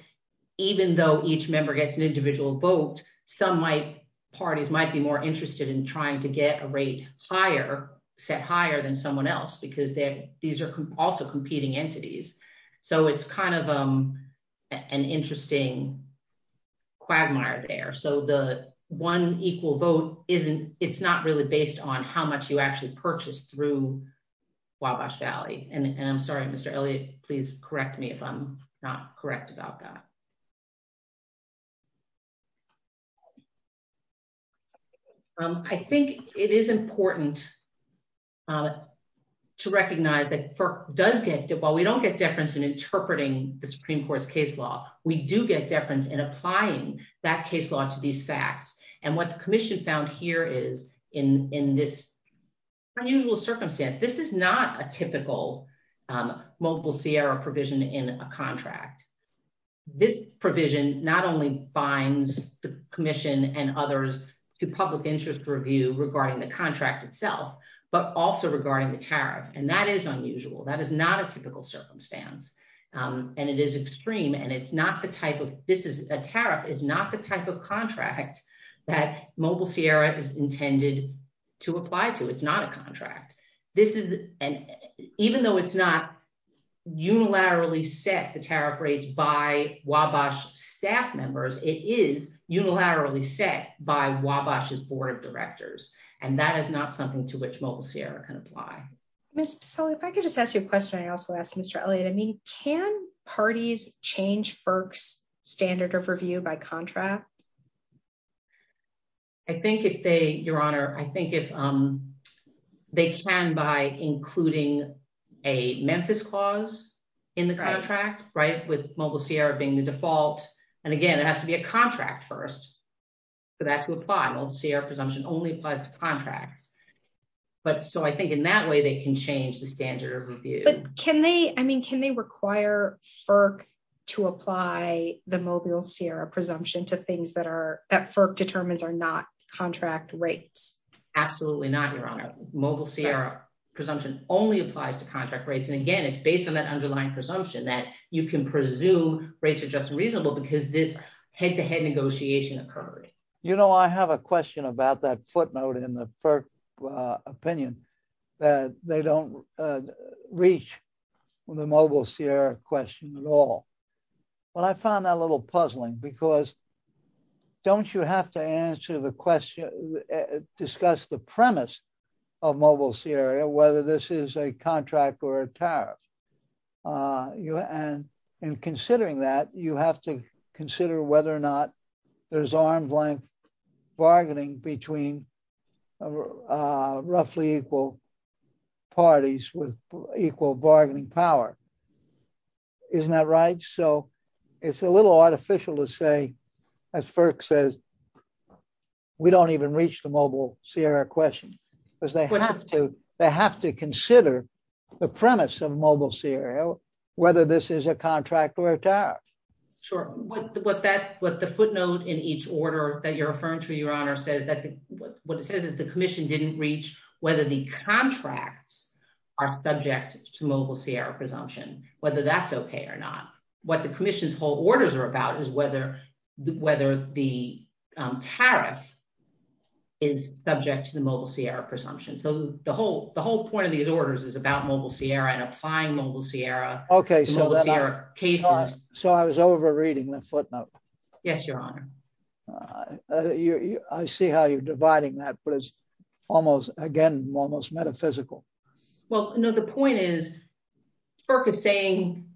even though each member gets an individual vote, some parties might be more interested in trying to get a rate higher, set higher than someone else because these are also competing entities. So it's kind of an interesting quagmire there. So the one equal vote, it's not really based on how much you actually purchased through Wabash Valley. And I'm sorry, Mr. Elliott, please correct me if I'm not correct about that. I think it is important to recognize that does get, while we don't get deference in interpreting the Supreme Court's case law, we do get deference in applying that case law to these facts. And what the commission found here is in this unusual circumstance, this is not a typical Mobile Sierra provision in a contract. This provision not only binds the commission and others to public interest review regarding the contract itself, but also regarding the tariff. And that is unusual. That is not a typical circumstance. And it is extreme. And it's not the type of, this is a tariff, is not the type of contract that Mobile Sierra is intended to apply to. It's not a contract. This is an, even though it's not unilaterally set the tariff rates by Wabash staff members, it is unilaterally set by Wabash's board of directors. And that is not something to which Mobile Sierra can apply. Ms. Bassoli, if I could just ask you a question. I also asked Mr. Elliott, I mean, can parties change FERC's standard of review by contract? I think if they, Your Honor, I think if they can by including a Memphis clause in the contract, right, with Mobile Sierra being the default. And again, it has to be a contract first for that to apply. Mobile Sierra presumption only applies to contracts. But so I think in that way, they can change the standard of review. But can they, I mean, can they require FERC to apply the Mobile Sierra presumption to things that FERC determines are not contract rates? Absolutely not, Your Honor. Mobile Sierra presumption only applies to contract rates. And again, it's based on that underlying presumption that you can presume rates are just reasonable because this head-to-head negotiation occurred. You know, I have a question about that footnote in the FERC opinion that they don't reach the Mobile Sierra question at all. Well, I found that a little puzzling because don't you have to answer the question, discuss the premise of Mobile Sierra, whether this is a contract or a tariff? And in considering that, you have to consider whether or not there's arm's length bargaining between roughly equal parties with equal bargaining power. Isn't that right? So it's a little artificial to say, as FERC says, we don't even reach the Mobile Sierra question because they have to consider the premise of Mobile Sierra, whether this is a contract or a tariff. Sure. What the footnote in each order that you're referring to, Your Honor, says that what it says is the commission didn't reach whether the contracts are subject to Mobile Sierra presumption, whether that's OK or not. What the commission's whole orders are about is whether the tariff is subject to the Mobile Sierra presumption. So the whole point of these orders is about Mobile Sierra and applying Mobile Sierra cases. So I was overreading the footnote. Yes, Your Honor. I see how you're dividing that, but it's almost, again, almost metaphysical. Well, no, the point is, FERC is saying,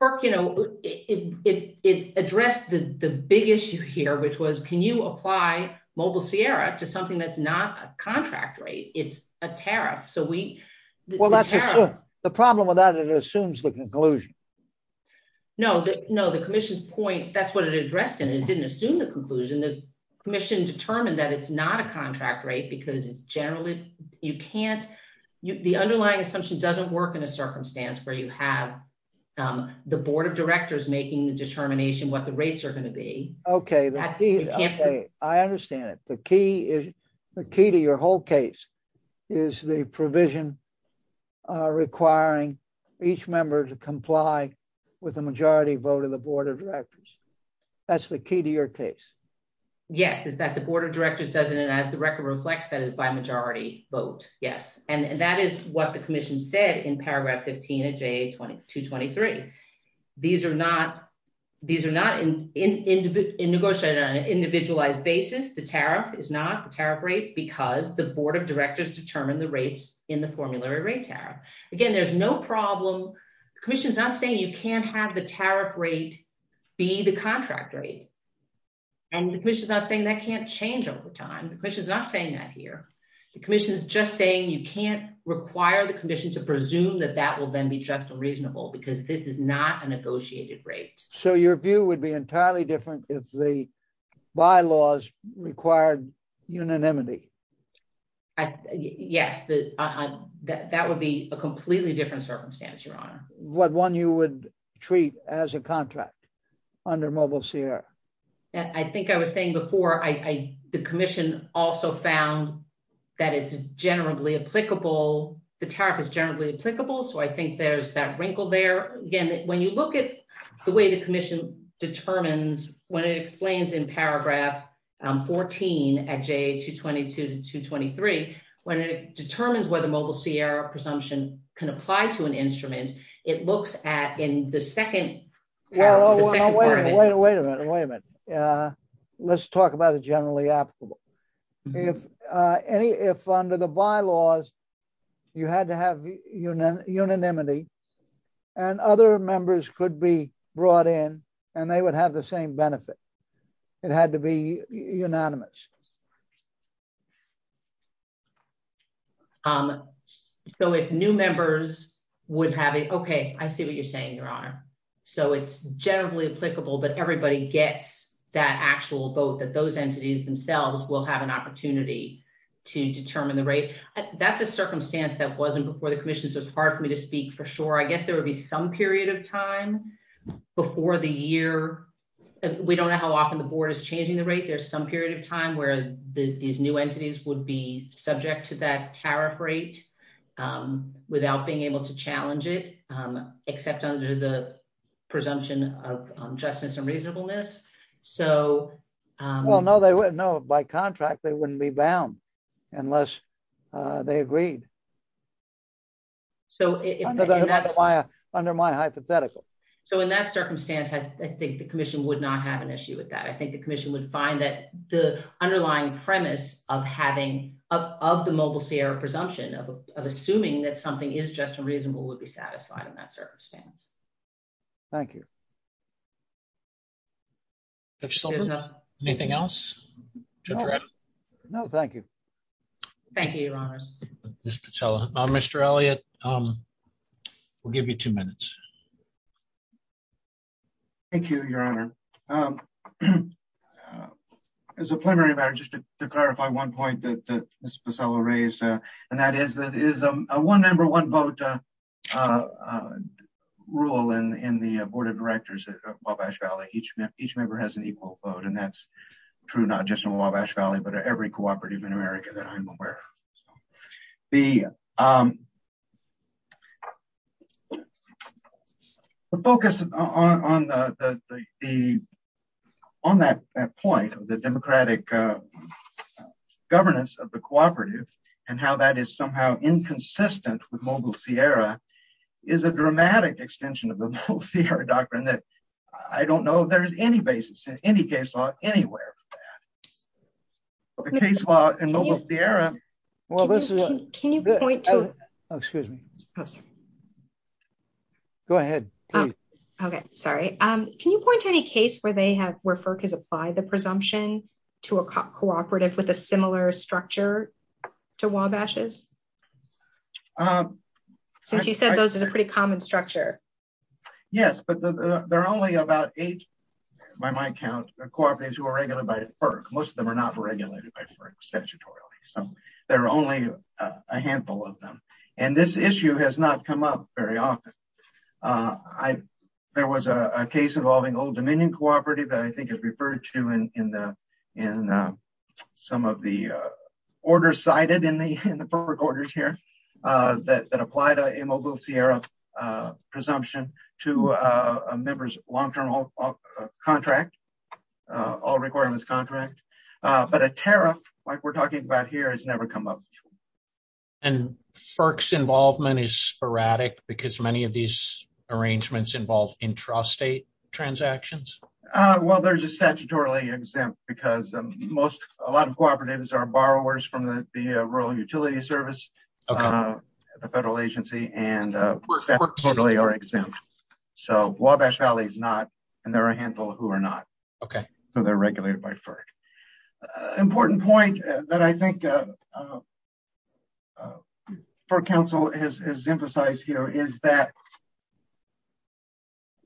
FERC, you know, it addressed the big issue here, which was, can you apply Mobile Sierra to something that's not a contract rate? It's a tariff. So we... Well, that's true. The problem with that, it assumes the conclusion. No, no, the commission's point, that's what it addressed in. It didn't assume the conclusion. The commission determined that it's not a contract rate because it's generally, you can't, the underlying assumption doesn't work in a circumstance where you have the board of directors making the determination what the rates are going to be. Okay. I understand it. The key to your whole case is the provision requiring each member to comply with the majority vote of the board of directors. That's the key to your case. Yes, is that the board of directors does it and as the record reflects, that is by majority vote. Yes. And that is what the commission said in paragraph 15 of JA 2223. These are not negotiated on an individualized basis. The tariff is not the tariff rate because the board of directors determined the rates in the formulary rate tariff. Again, there's no problem. The commission's not saying you can't have the tariff rate be the contract rate. And the commission's not saying that can't change over time. The commission's not saying that here. The commission's just saying you can't require the commission to presume that that will then be just and reasonable because this is not a negotiated rate. So your view would be entirely different if the bylaws required unanimity. Yes, that would be a completely different circumstance, your honor. What one you would treat as a contract under Mobile Sierra. I think I was saying before, the commission also found that it's generally applicable. The tariff is generally applicable. So I think there's that wrinkle there. Again, when you look at the way the commission determines when it explains in paragraph 14 at J222 to 223, when it determines whether Mobile Sierra presumption can apply to an instrument, it looks at in the second. Well, wait a minute, wait a minute. Let's talk about the generally applicable. If any, if under the bylaws, you had to have unanimity and other members could be brought in and they would have the same benefit. It had to be unanimous. So if new members would have it, OK, I see what you're saying, your honor. So it's generally applicable, but everybody gets that actual vote that those entities themselves will have an opportunity to determine the rate. That's a circumstance that wasn't before the commission. So it's hard for me to speak for sure. I guess there would be some period of time before the year. We don't know how often the board is changing the rate. There's some period of time where these new entities would be subject to that tariff rate without being able to challenge it, except under the presumption of justice and reasonableness. So, well, no, they wouldn't know by contract, they wouldn't be bound unless they agreed. Under my hypothetical. So in that circumstance, I think the commission would not have an issue with that. I think the commission would find that the underlying premise of having of the Mobile Sierra presumption of assuming that something is just and reasonable would be satisfied in that circumstance. Thank you. If so, anything else? No, thank you. Thank you, Your Honor. Mr. Elliott, we'll give you two minutes. Thank you, Your Honor. As a primary matter, just to clarify one point that Ms. Pacella raised, and that is that is a one member, one vote rule in the board of directors at Wabash Valley. Each member has an equal vote. And that's true, not just in Wabash Valley, but every cooperative in America that I'm aware of. The focus on that point of the democratic governance of the cooperative and how that is somehow inconsistent with Mobile Sierra is a dramatic extension of the Mobile Sierra doctrine that I don't know there's any basis in any case law anywhere. The case law in Mobile Sierra. Well, this is a- Can you point to- Oh, excuse me. Go ahead, please. Okay, sorry. Can you point to any case where FERC has applied the presumption to a cooperative with a similar structure to Wabash's? Since you said those is a pretty common structure. Yes, but there are only about eight by my count cooperatives who are regulated by FERC. Most of them are not regulated by FERC statutorily. So there are only a handful of them. And this issue has not come up very often. There was a case involving Old Dominion Cooperative that I think is referred to in some of the orders cited in the FERC orders here that applied a Mobile Sierra presumption to a member's long-term contract, all requirements contract. But a tariff, like we're talking about here, has never come up. And FERC's involvement is sporadic because many of these arrangements involve intrastate transactions? Well, they're just statutorily exempt because a lot of cooperatives are borrowers from the Rural Utility Service, a federal agency, and statutorily are exempt. So Wabash Valley is not, and there are a handful who are not. OK, so they're regulated by FERC. Important point that I think FERC Council has emphasized here is that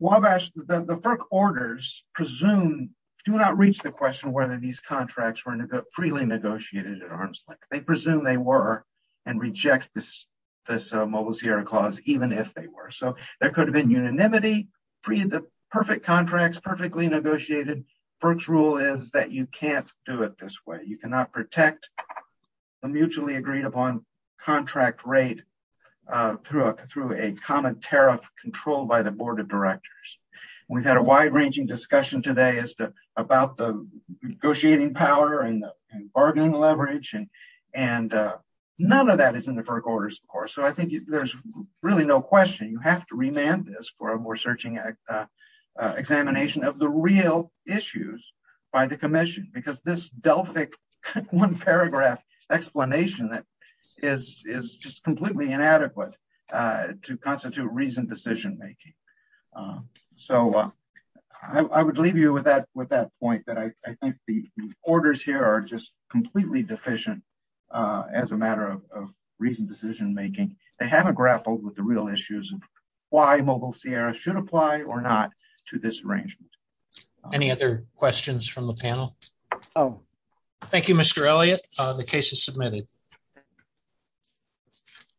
the FERC orders presume, do not reach the question whether these contracts were freely negotiated at arm's length. They presume they were and reject this Mobile Sierra clause even if they were. So there could have been unanimity, free of the perfect contracts, perfectly negotiated. FERC's rule is that you can't do it this way. You cannot protect the mutually agreed upon contract rate through a common tariff controlled by the Board of Directors. We've had a wide-ranging discussion today about the negotiating power and the bargaining leverage and none of that is in the FERC orders, of course. So I think there's really no question you have to remand this for a more searching examination of the real issues by the Commission because this Delphic one-paragraph explanation is just completely inadequate to constitute reasoned decision-making. So I would leave you with that point that I think the orders here are just completely deficient as a matter of reasoned decision-making. They haven't grappled with the real issues of why Mobile Sierra should apply or not to this arrangement. Any other questions from the panel? Thank you, Mr. Elliott. The case is submitted.